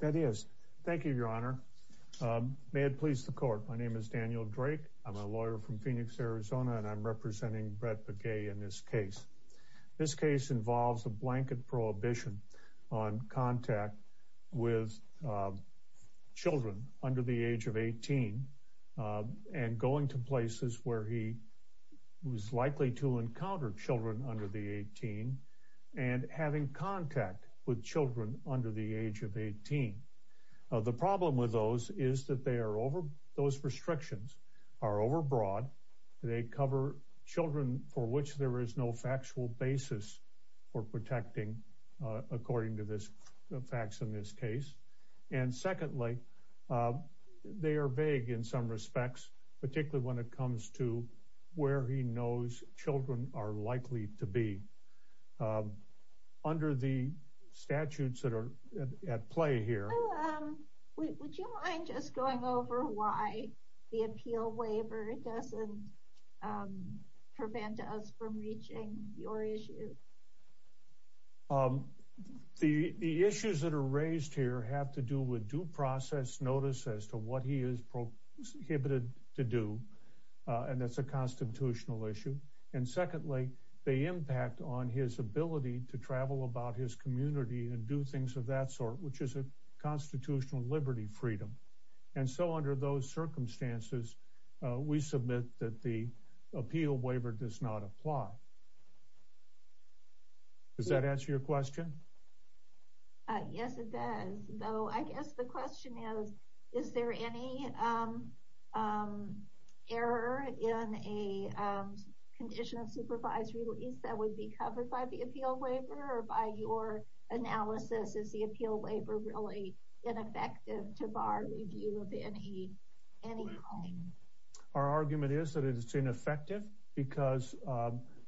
that is thank you your honor may it please the court my name is Daniel Drake I'm a lawyer from Phoenix Arizona and I'm representing Brett Begay in this case this case involves a blanket prohibition on contact with children under the age of 18 and going to places where he was likely to encounter children under the 18 and having contact with children under the age of 18 the problem with those is that they are over those restrictions are overbroad they cover children for which there is no factual basis for protecting according to this facts in this case and secondly they are vague in some respects particularly when it comes to where he knows children are likely to be under the statutes that are at play here the issues that are raised here have to do with due process notice as to what he is prohibited to do and that's a constitutional issue and secondly they impact on his ability to travel about his community and do things of that sort which is a constitutional liberty freedom and so under those circumstances we submit that the appeal waiver does not apply does that answer your question yes it does though I guess the question is is there any error in a condition of supervised release that would be covered by the appeal waiver or by your analysis is the appeal waiver really ineffective to bar review of any any our argument is that it's ineffective because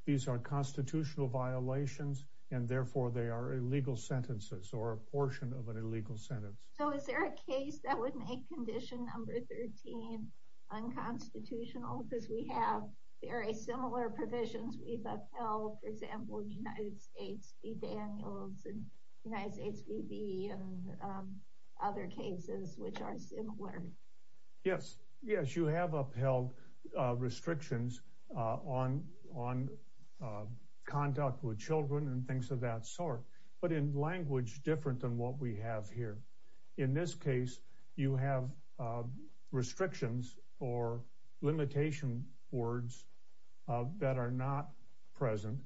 these are constitutional violations and therefore they are illegal sentences or a portion of an illegal sentence so is there a case that would make condition number 13 unconstitutional because we have very similar provisions we've upheld for example United States v. Daniels and United States v. Bee and other cases which are similar yes yes you have upheld restrictions on on conduct with children and things of that sort but in language different than what we have here in this case you have restrictions or limitation words that are not present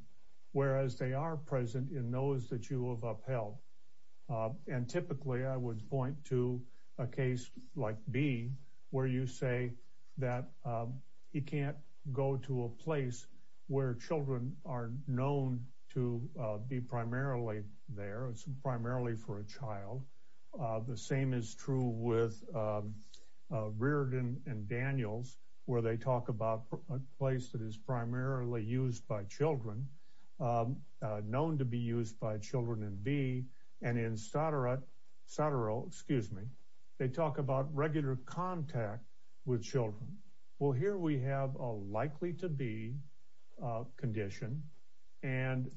whereas they are present in those that you have upheld and typically I would point to a case like Bee where you say that he can't go to a place where children are known to be primarily there it's primarily for a child the same is true with Reardon and Daniels where they talk about a place that is primarily used by children known to be used by children in Bee and in Sattero excuse me they talk about regular contact with children well here we have a likely to be condition and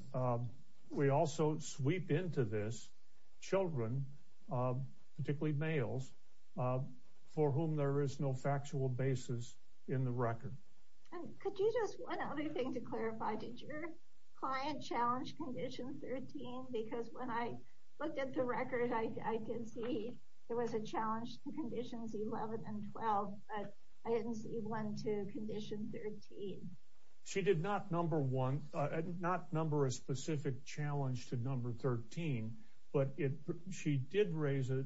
we also sweep into this children particularly males for whom there is no factual basis in the record could you just one other to clarify did your client challenge condition 13 because when I looked at the record I can see there was a challenge to conditions 11 and 12 but I didn't see one to condition 13. She did not number one not number a specific challenge to number 13 but it she did raise a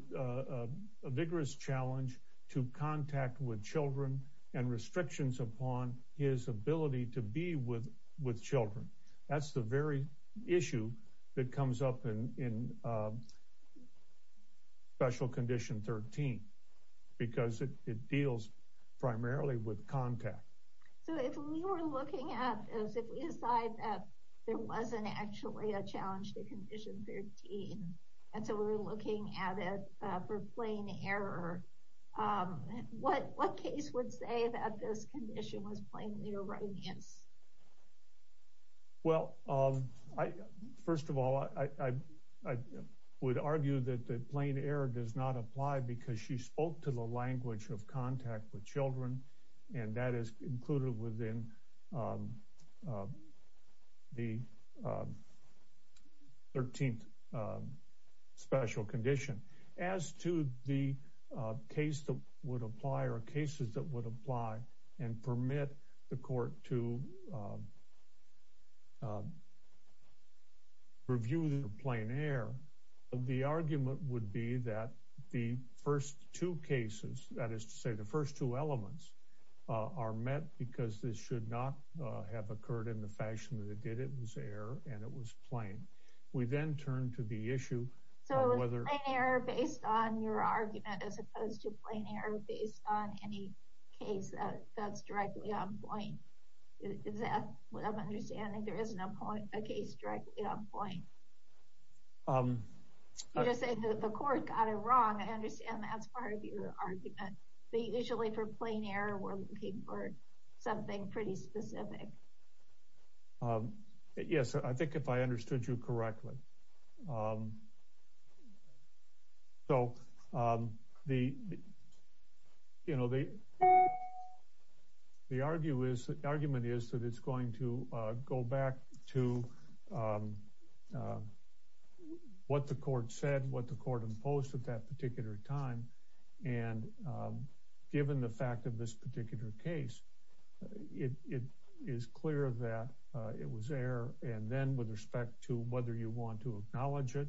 challenge to contact with children and restrictions upon his ability to be with with children that's the very issue that comes up in special condition 13 because it deals primarily with contact so if we were looking at as if we decide that there wasn't actually a plain error what what case would say that this condition was plainly erroneous well um I first of all I would argue that the plain error does not apply because she spoke to the language of contact with children and that is included within the 13th special condition as to the case that would apply or cases that would apply and permit the court to review the plain air the argument would be that the first two cases that is to say the first two elements are met because this should not have occurred in the fashion that it did it was air and it was plain we then turn to the issue so whether based on your argument as opposed to plain error based on any case that that's directly on point is that what I'm understanding there is no point a case directly on point um you're saying that the court got it wrong I understand that's part of your argument but usually for plain error we're looking for something pretty specific um yes I think if I understood you correctly um so um the you know the the argue is the argument is that it's going to uh go back to um what the court said what the court imposed at that particular time and given the fact of this particular case it it is clear that it was air and then with respect to whether you want to acknowledge it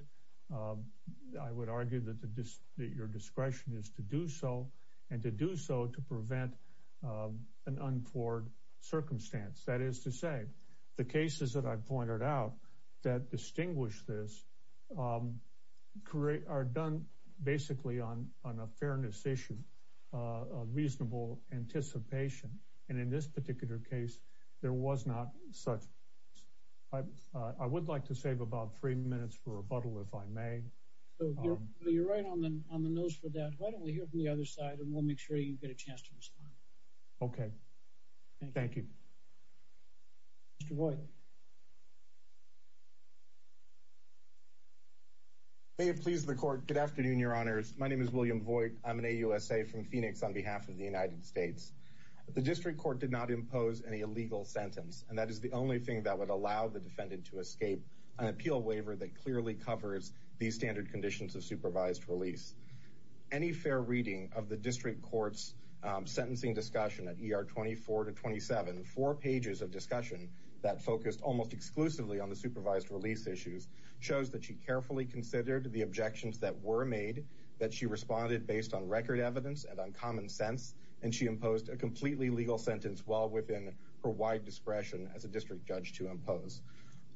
I would argue that the dis that your discretion is to do so and to do so to prevent an unforced circumstance that is to say the cases that I pointed out that distinguish this um create are done basically on on a fairness issue uh a reasonable anticipation and in this particular case there was not such I uh I would like to save about three minutes for rebuttal if I may so you're right on the on the nose for that why don't we hear from the other side and we'll make sure you get a chance to please the court good afternoon your honors my name is William Voigt I'm an AUSA from Phoenix on behalf of the United States the district court did not impose any illegal sentence and that is the only thing that would allow the defendant to escape an appeal waiver that clearly covers these standard conditions of supervised release any fair reading of the district court's um sentencing discussion at ER 24 to 27 four pages of discussion that focused almost exclusively on supervised release issues shows that she carefully considered the objections that were made that she responded based on record evidence and on common sense and she imposed a completely legal sentence while within her wide discretion as a district judge to impose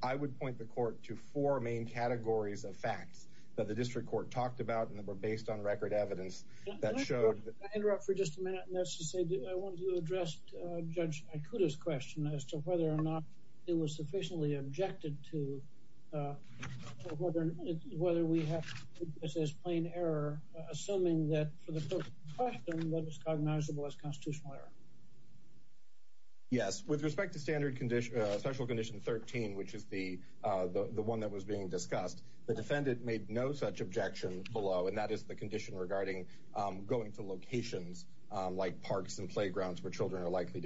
I would point the court to four main categories of facts that the district court talked about and that were based on record evidence that showed I interrupt for just a minute and that's to say I wanted to judge Aikuda's question as to whether or not it was sufficiently objected to whether we have this as plain error assuming that for the question that was cognizable as constitutional error yes with respect to standard condition special condition 13 which is the uh the one that was being discussed the defendant made no such objection below and that is the to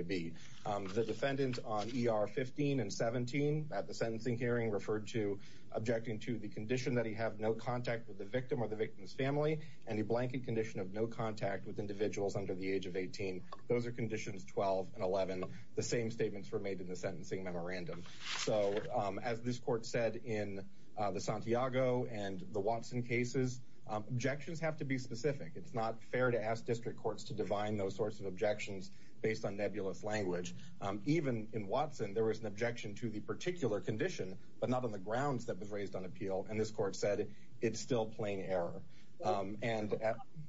be um the defendant on er 15 and 17 at the sentencing hearing referred to objecting to the condition that he have no contact with the victim or the victim's family and a blanket condition of no contact with individuals under the age of 18 those are conditions 12 and 11 the same statements were made in the sentencing memorandum so um as this court said in uh the Santiago and the Watson cases objections have to be specific it's not fair to ask district courts to divine those sorts of objections based on nebulous language um even in Watson there was an objection to the particular condition but not on the grounds that was raised on appeal and this court said it's still plain error um and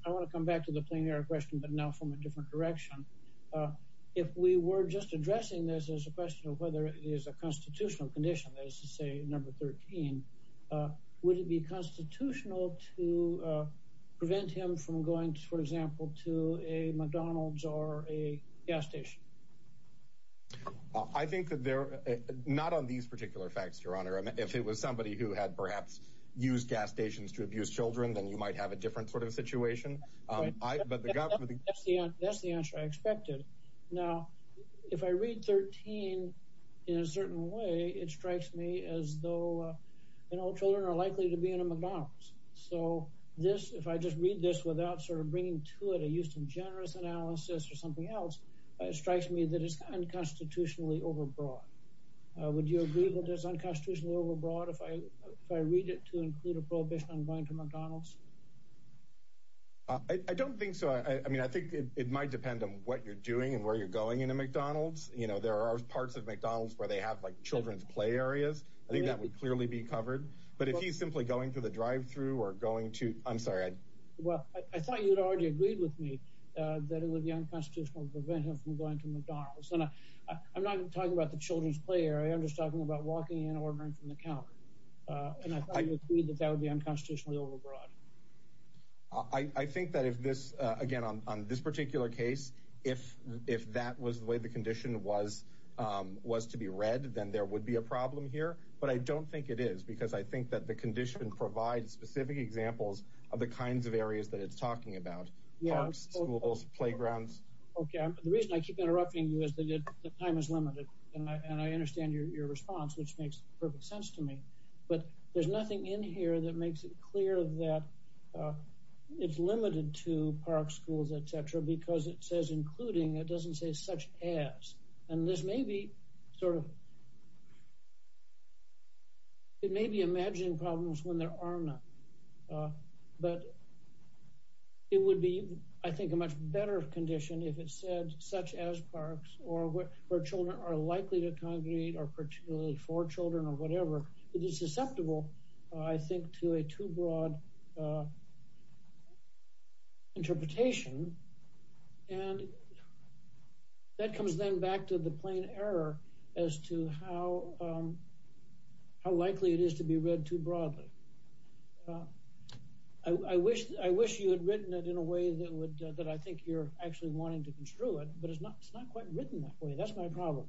I want to come back to the plain air question but now from a different direction if we were just addressing this as a question of whether it is a constitutional condition that is to say number 13 uh would it be constitutional to uh prevent him from going to for example to a McDonald's or a gas station I think that they're not on these particular facts your honor if it was somebody who had perhaps used gas stations to abuse children then you might have a different sort of situation um but that's the answer I expected now if I read 13 in a certain way it strikes me as though you know children are likely to be in a McDonald's so this if I just read this without sort of bringing to it a use of generous analysis or something else it strikes me that it's unconstitutionally overbroad uh would you agree with this unconstitutionally overbroad if I if I read it to include a prohibition on going to McDonald's uh I don't think so I mean I think it might depend on what you're doing and where you're going in a McDonald's you know there are parts of McDonald's where they have like children's play areas I think that would clearly be covered but if he's simply going through the drive-through or going to I'm sorry I well I thought you'd already agreed with me uh that it would be unconstitutional to prevent him from going to McDonald's and I I'm not talking about the children's play area I'm just talking about walking in ordering from the counter uh and I thought you agreed that that would be unconstitutionally overbroad I I think that if this uh again on on this particular case if if that was the way the condition was um was to be read then there would be a problem here but I don't think it is because I think that the condition provides specific examples of the kinds of areas that it's talking about yeah schools playgrounds okay the reason I keep interrupting you is that the time is limited and I understand your response which makes perfect sense to me but there's nothing in here that makes it clear that it's limited to park schools etc because it says including it doesn't say such as and this may be sort of it may be imagining problems when there are none uh but it would be I think a much better condition if it said such as parks or where children are likely to congregate or particularly for children or whatever it is susceptible I think to a too broad uh interpretation and that comes then back to the plain error as to how um how likely it is to be read too broadly I wish I wish you had written it in a way that would that I think you're actually wanting to construe it but it's not it's not quite written that way that's my problem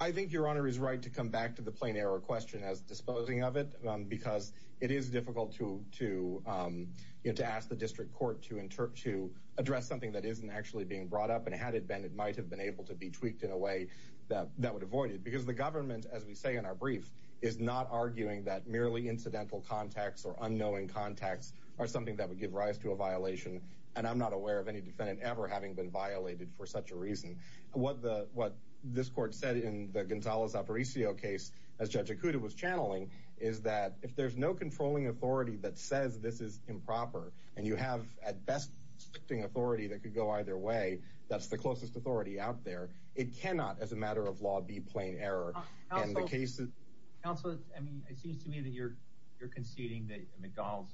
I think your honor is right to come back to the plain error question as disposing of it because it is difficult to to you know to ask the district court to interpret to address something that isn't actually being brought up and had it been it might have been able to be tweaked in a way that that would avoid it because the government as we say in our brief is not arguing that merely incidental contacts or unknowing contacts are something that would give rise to a violation and I'm not aware of any defendant ever having been violated for such a reason what the what this court said in the Gonzales-Aparicio case as Judge Ikuda was channeling is that if there's no controlling authority that says this is improper and you have at best restricting authority that could go either way that's the closest authority out there it cannot as a matter of law be plain error and the case is also I mean it seems to me that you're you're conceding that McDonald's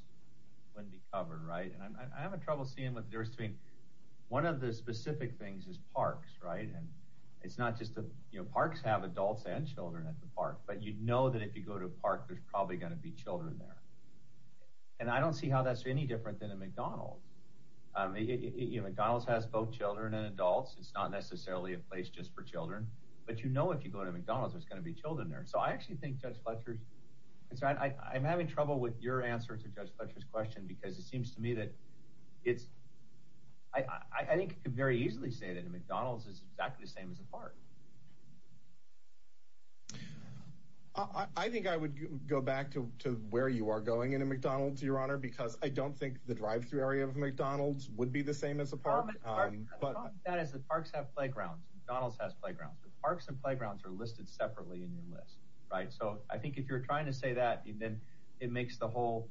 wouldn't be covered right and I'm I have a trouble seeing what there's to be one of the specific things is parks right and it's not just that you know parks have adults and children at the park but you know that if you go to a park there's probably going to be there and I don't see how that's any different than a McDonald's you know McDonald's has both children and adults it's not necessarily a place just for children but you know if you go to McDonald's there's going to be children there so I actually think Judge Fletcher's it's right I'm having trouble with your answer to Judge Fletcher's question because it seems to me that it's I think you could very easily say that a McDonald's is exactly the same as a park I think I would go back to where you are going in a McDonald's your honor because I don't think the drive-through area of McDonald's would be the same as a park but that is the parks have playgrounds McDonald's has playgrounds but parks and playgrounds are listed separately in your list right so I think if you're trying to say that and then it makes the whole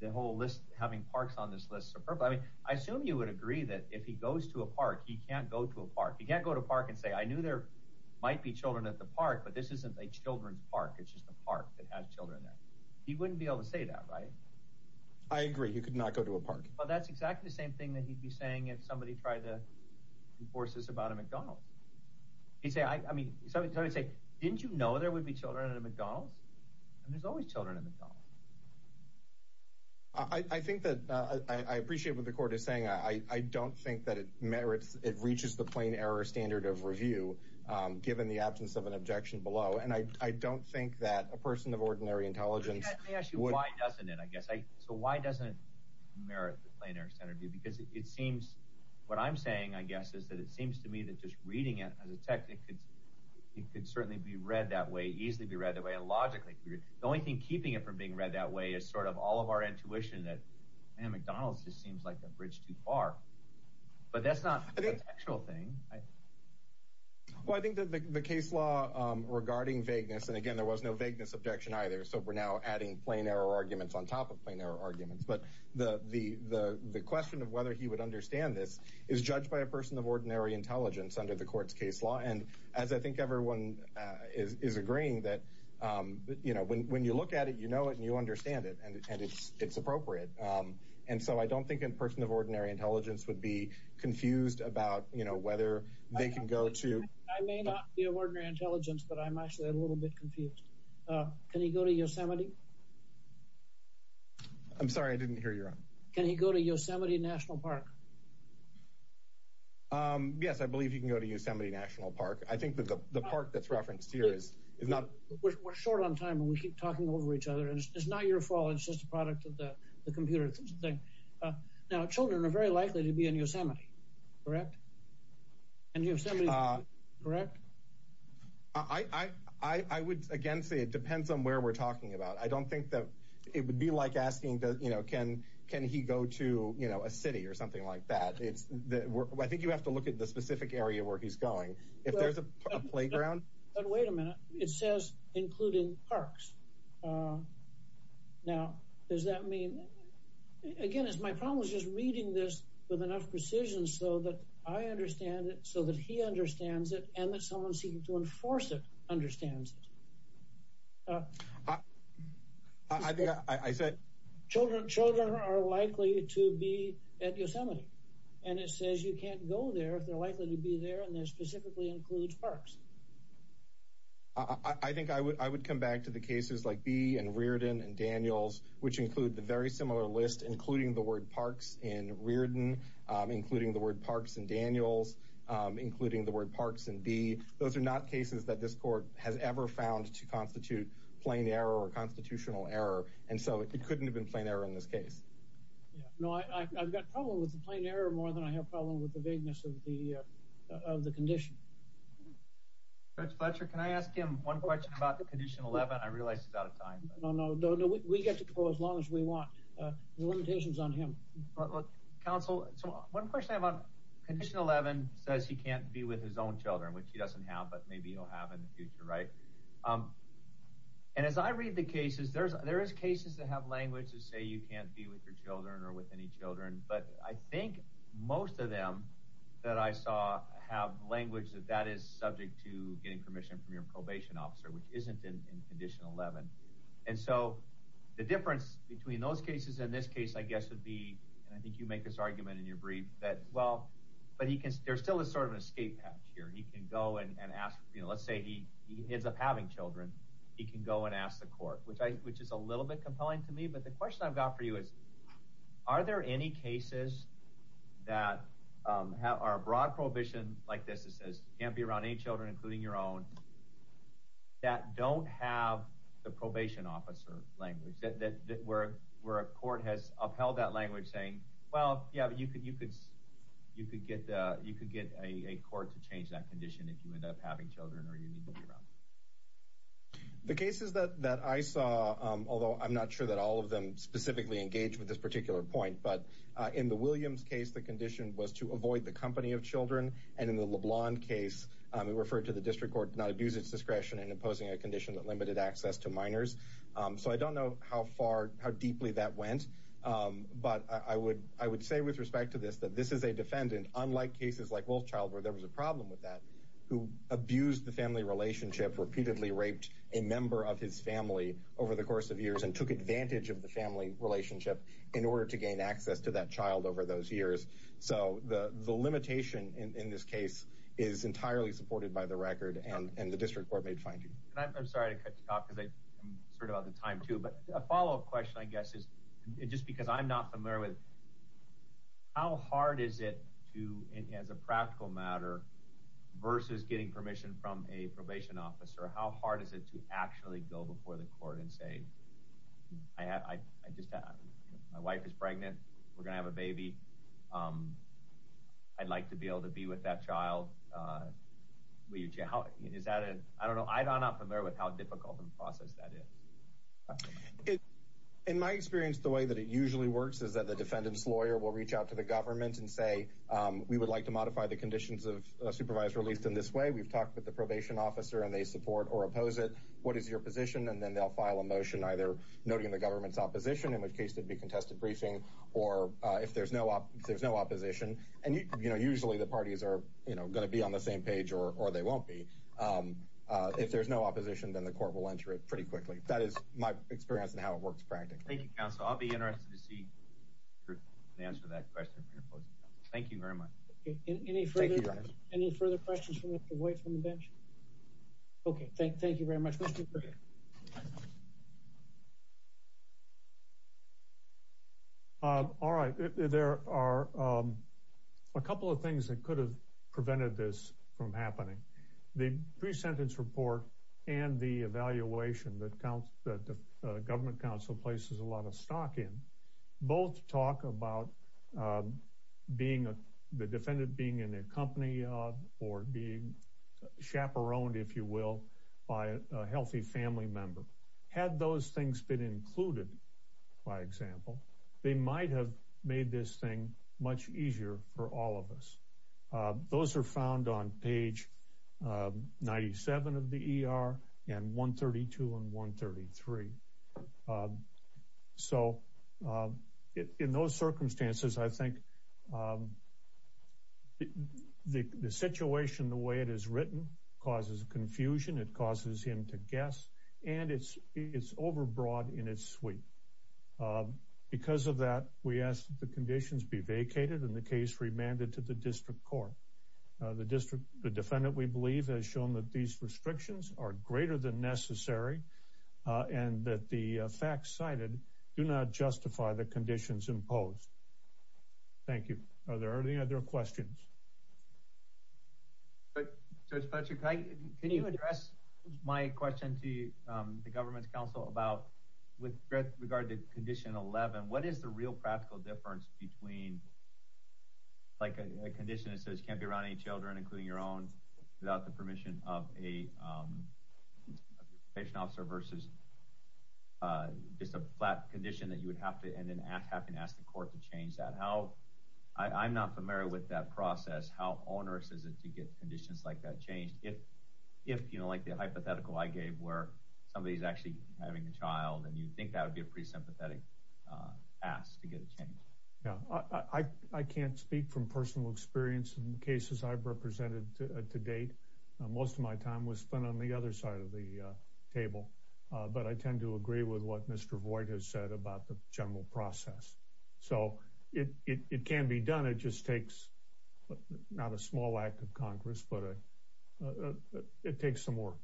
the whole list having parks on this list superb I mean I assume you would agree that if he goes to a park he can't go to a park he can't go to park and say I knew there might be children at the park but this isn't a children's park it's a park that has children there he wouldn't be able to say that right I agree you could not go to a park well that's exactly the same thing that he'd be saying if somebody tried to enforce this about a McDonald's he'd say I mean somebody would say didn't you know there would be children at a McDonald's and there's always children in the car I I think that I I appreciate what the court is saying I I don't think that it merits it reaches the plain error standard of review given the a person of ordinary intelligence I ask you why doesn't it I guess I so why doesn't it merit the plain error standard view because it seems what I'm saying I guess is that it seems to me that just reading it as a tech it could it could certainly be read that way easily be read the way and logically the only thing keeping it from being read that way is sort of all of our intuition that man McDonald's just seems like a bridge too far but that's not the actual thing I well I think the case law regarding vagueness and again there was no vagueness objection either so we're now adding plain error arguments on top of plain error arguments but the the the the question of whether he would understand this is judged by a person of ordinary intelligence under the court's case law and as I think everyone is is agreeing that you know when when you look at it you know it and you understand it and it's it's appropriate and so I don't think in person of ordinary intelligence would be confused about you know whether they can go to I may not be of ordinary intelligence but I'm actually a little bit confused uh can he go to Yosemite I'm sorry I didn't hear you can he go to Yosemite National Park um yes I believe he can go to Yosemite National Park I think the park that's referenced here is is not we're short on time and we keep talking over each other and it's not your fault it's a product of the computer thing now children are very likely to be in Yosemite correct and Yosemite correct I I I would again say it depends on where we're talking about I don't think that it would be like asking that you know can can he go to you know a city or something like that it's the I think you have to look at the specific area where he's going if there's a does that mean again it's my problem is just reading this with enough precision so that I understand it so that he understands it and that someone's seeking to enforce it understands it I think I said children children are likely to be at Yosemite and it says you can't go there if they're likely to be there and that specifically includes parks I think I would I would come back to the cases like B and Riordan and Daniels which include the very similar list including the word parks in Riordan including the word parks and Daniels including the word parks and B those are not cases that this court has ever found to constitute plain error or constitutional error and so it couldn't have been plain error in this case yeah no I I've got problem with the plain error more than I have problem with the vagueness of the uh of the condition Judge Fletcher can I ask him one question about the condition 11 I realize he's out of time no no no we get to go as long as we want uh the limitations on him but look counsel so one question I have on condition 11 says he can't be with his own children which he doesn't have but maybe he'll have in the future right um and as I read the cases there's there is cases that have language to say you can't be with your children or with any children but I think most of them that I saw have language that that is subject to getting permission from your probation officer which isn't in condition 11 and so the difference between those cases in this case I guess would be and I think you make this argument in your brief that well but he can there still is sort of an escape patch here he can go and ask you know let's say he he ends up having children he can go and ask the court which I which is a little bit compelling to me but the question I've got for you is are there any cases that um have are broad prohibition like this that says you can't be around any children including your own that don't have the probation officer language that that where where a court has upheld that language saying well yeah but you could you could you could get uh you could get a a court to change that condition if you end up having children or you need to be around the cases that that I saw um although I'm not sure that all of them specifically engage with this particular point but in the Williams case the condition was to avoid the company of children and in the LeBlanc case we referred to the district court to not abuse its discretion in imposing a condition that limited access to minors so I don't know how far how deeply that went but I would I would say with respect to this that this is a defendant unlike cases like Wolfchild where there was a problem with that who abused the family relationship repeatedly raped a member of his family over the course of years and took advantage of the family relationship in order to gain access to that child over those years so the the limitation in this case is entirely supported by the record and and the district court made findings I'm sorry to cut you off because I'm sort of out of time too but a follow-up question I guess is just because I'm not familiar with how hard is it to as a practical matter versus getting permission from a probation officer how hard is it to actually go before the court and say I had I just had my wife is pregnant we're gonna have a baby um I'd like to be able to be with that child uh will you how is that a I don't know I'm not familiar with how difficult of a process that is in my experience the way that it usually works is that the defendant's lawyer will reach out to the government and say um we would like to modify the conditions of a supervisor at least in this way we've talked with the probation officer and they support or oppose it what is your position and then they'll file a motion either noting the government's opposition in which case there'd be contested briefing or uh if there's no up if there's no opposition and you know usually the parties are you know going to be on the same page or or they won't be um uh if there's no opposition then the court will enter it pretty quickly that is my experience and how it works practically thank you counsel I'll be interested to see the answer to that question thank you very much any further any further questions from away from the bench okay thank you very much all right there are um a couple of things that could have prevented this from happening the pre-sentence report and the evaluation that counts that the government council places a lot of stock both talk about being a the defendant being in a company or being chaperoned if you will by a healthy family member had those things been included by example they might have made this thing much easier for all of us those are found on page 97 of the er and 132 and 133 um so um in those circumstances I think um the the situation the way it is written causes confusion it causes him to guess and it's it's overbroad in its suite because of that we ask that the conditions be vacated and the case remanded to the district court the district the defendant we believe has shown that these restrictions are greater than facts cited do not justify the conditions imposed thank you are there any other questions but judge Patrick can you address my question to the government's council about with regard to condition 11 what is the real practical difference between like a condition that says you can't be around any children including your own without the permission of a um patient officer versus uh just a flat condition that you would have to and then have to ask the court to change that how I'm not familiar with that process how onerous is it to get conditions like that changed if if you know like the hypothetical I gave where somebody's actually having a child and you think that would be a pretty sympathetic uh ask to get a change yeah I I can't speak from personal experience in cases I've represented to date most of my time was spent on the other side of the table but I tend to agree with what Mr. Voight has said about the general process so it it can be done it just takes not a small act of Congress but it takes some work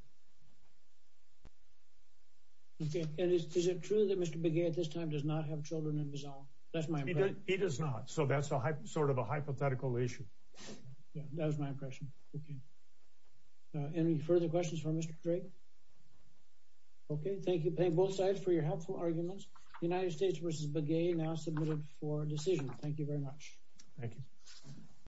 okay and is it true that Mr. Begay at this time does not have children in the zone that's my he does not so that's a sort of a hypothetical issue yeah that was my impression okay any further questions for Mr. Drake okay thank you thank both sides for your helpful arguments United States versus Begay now submitted for decision thank you very much thank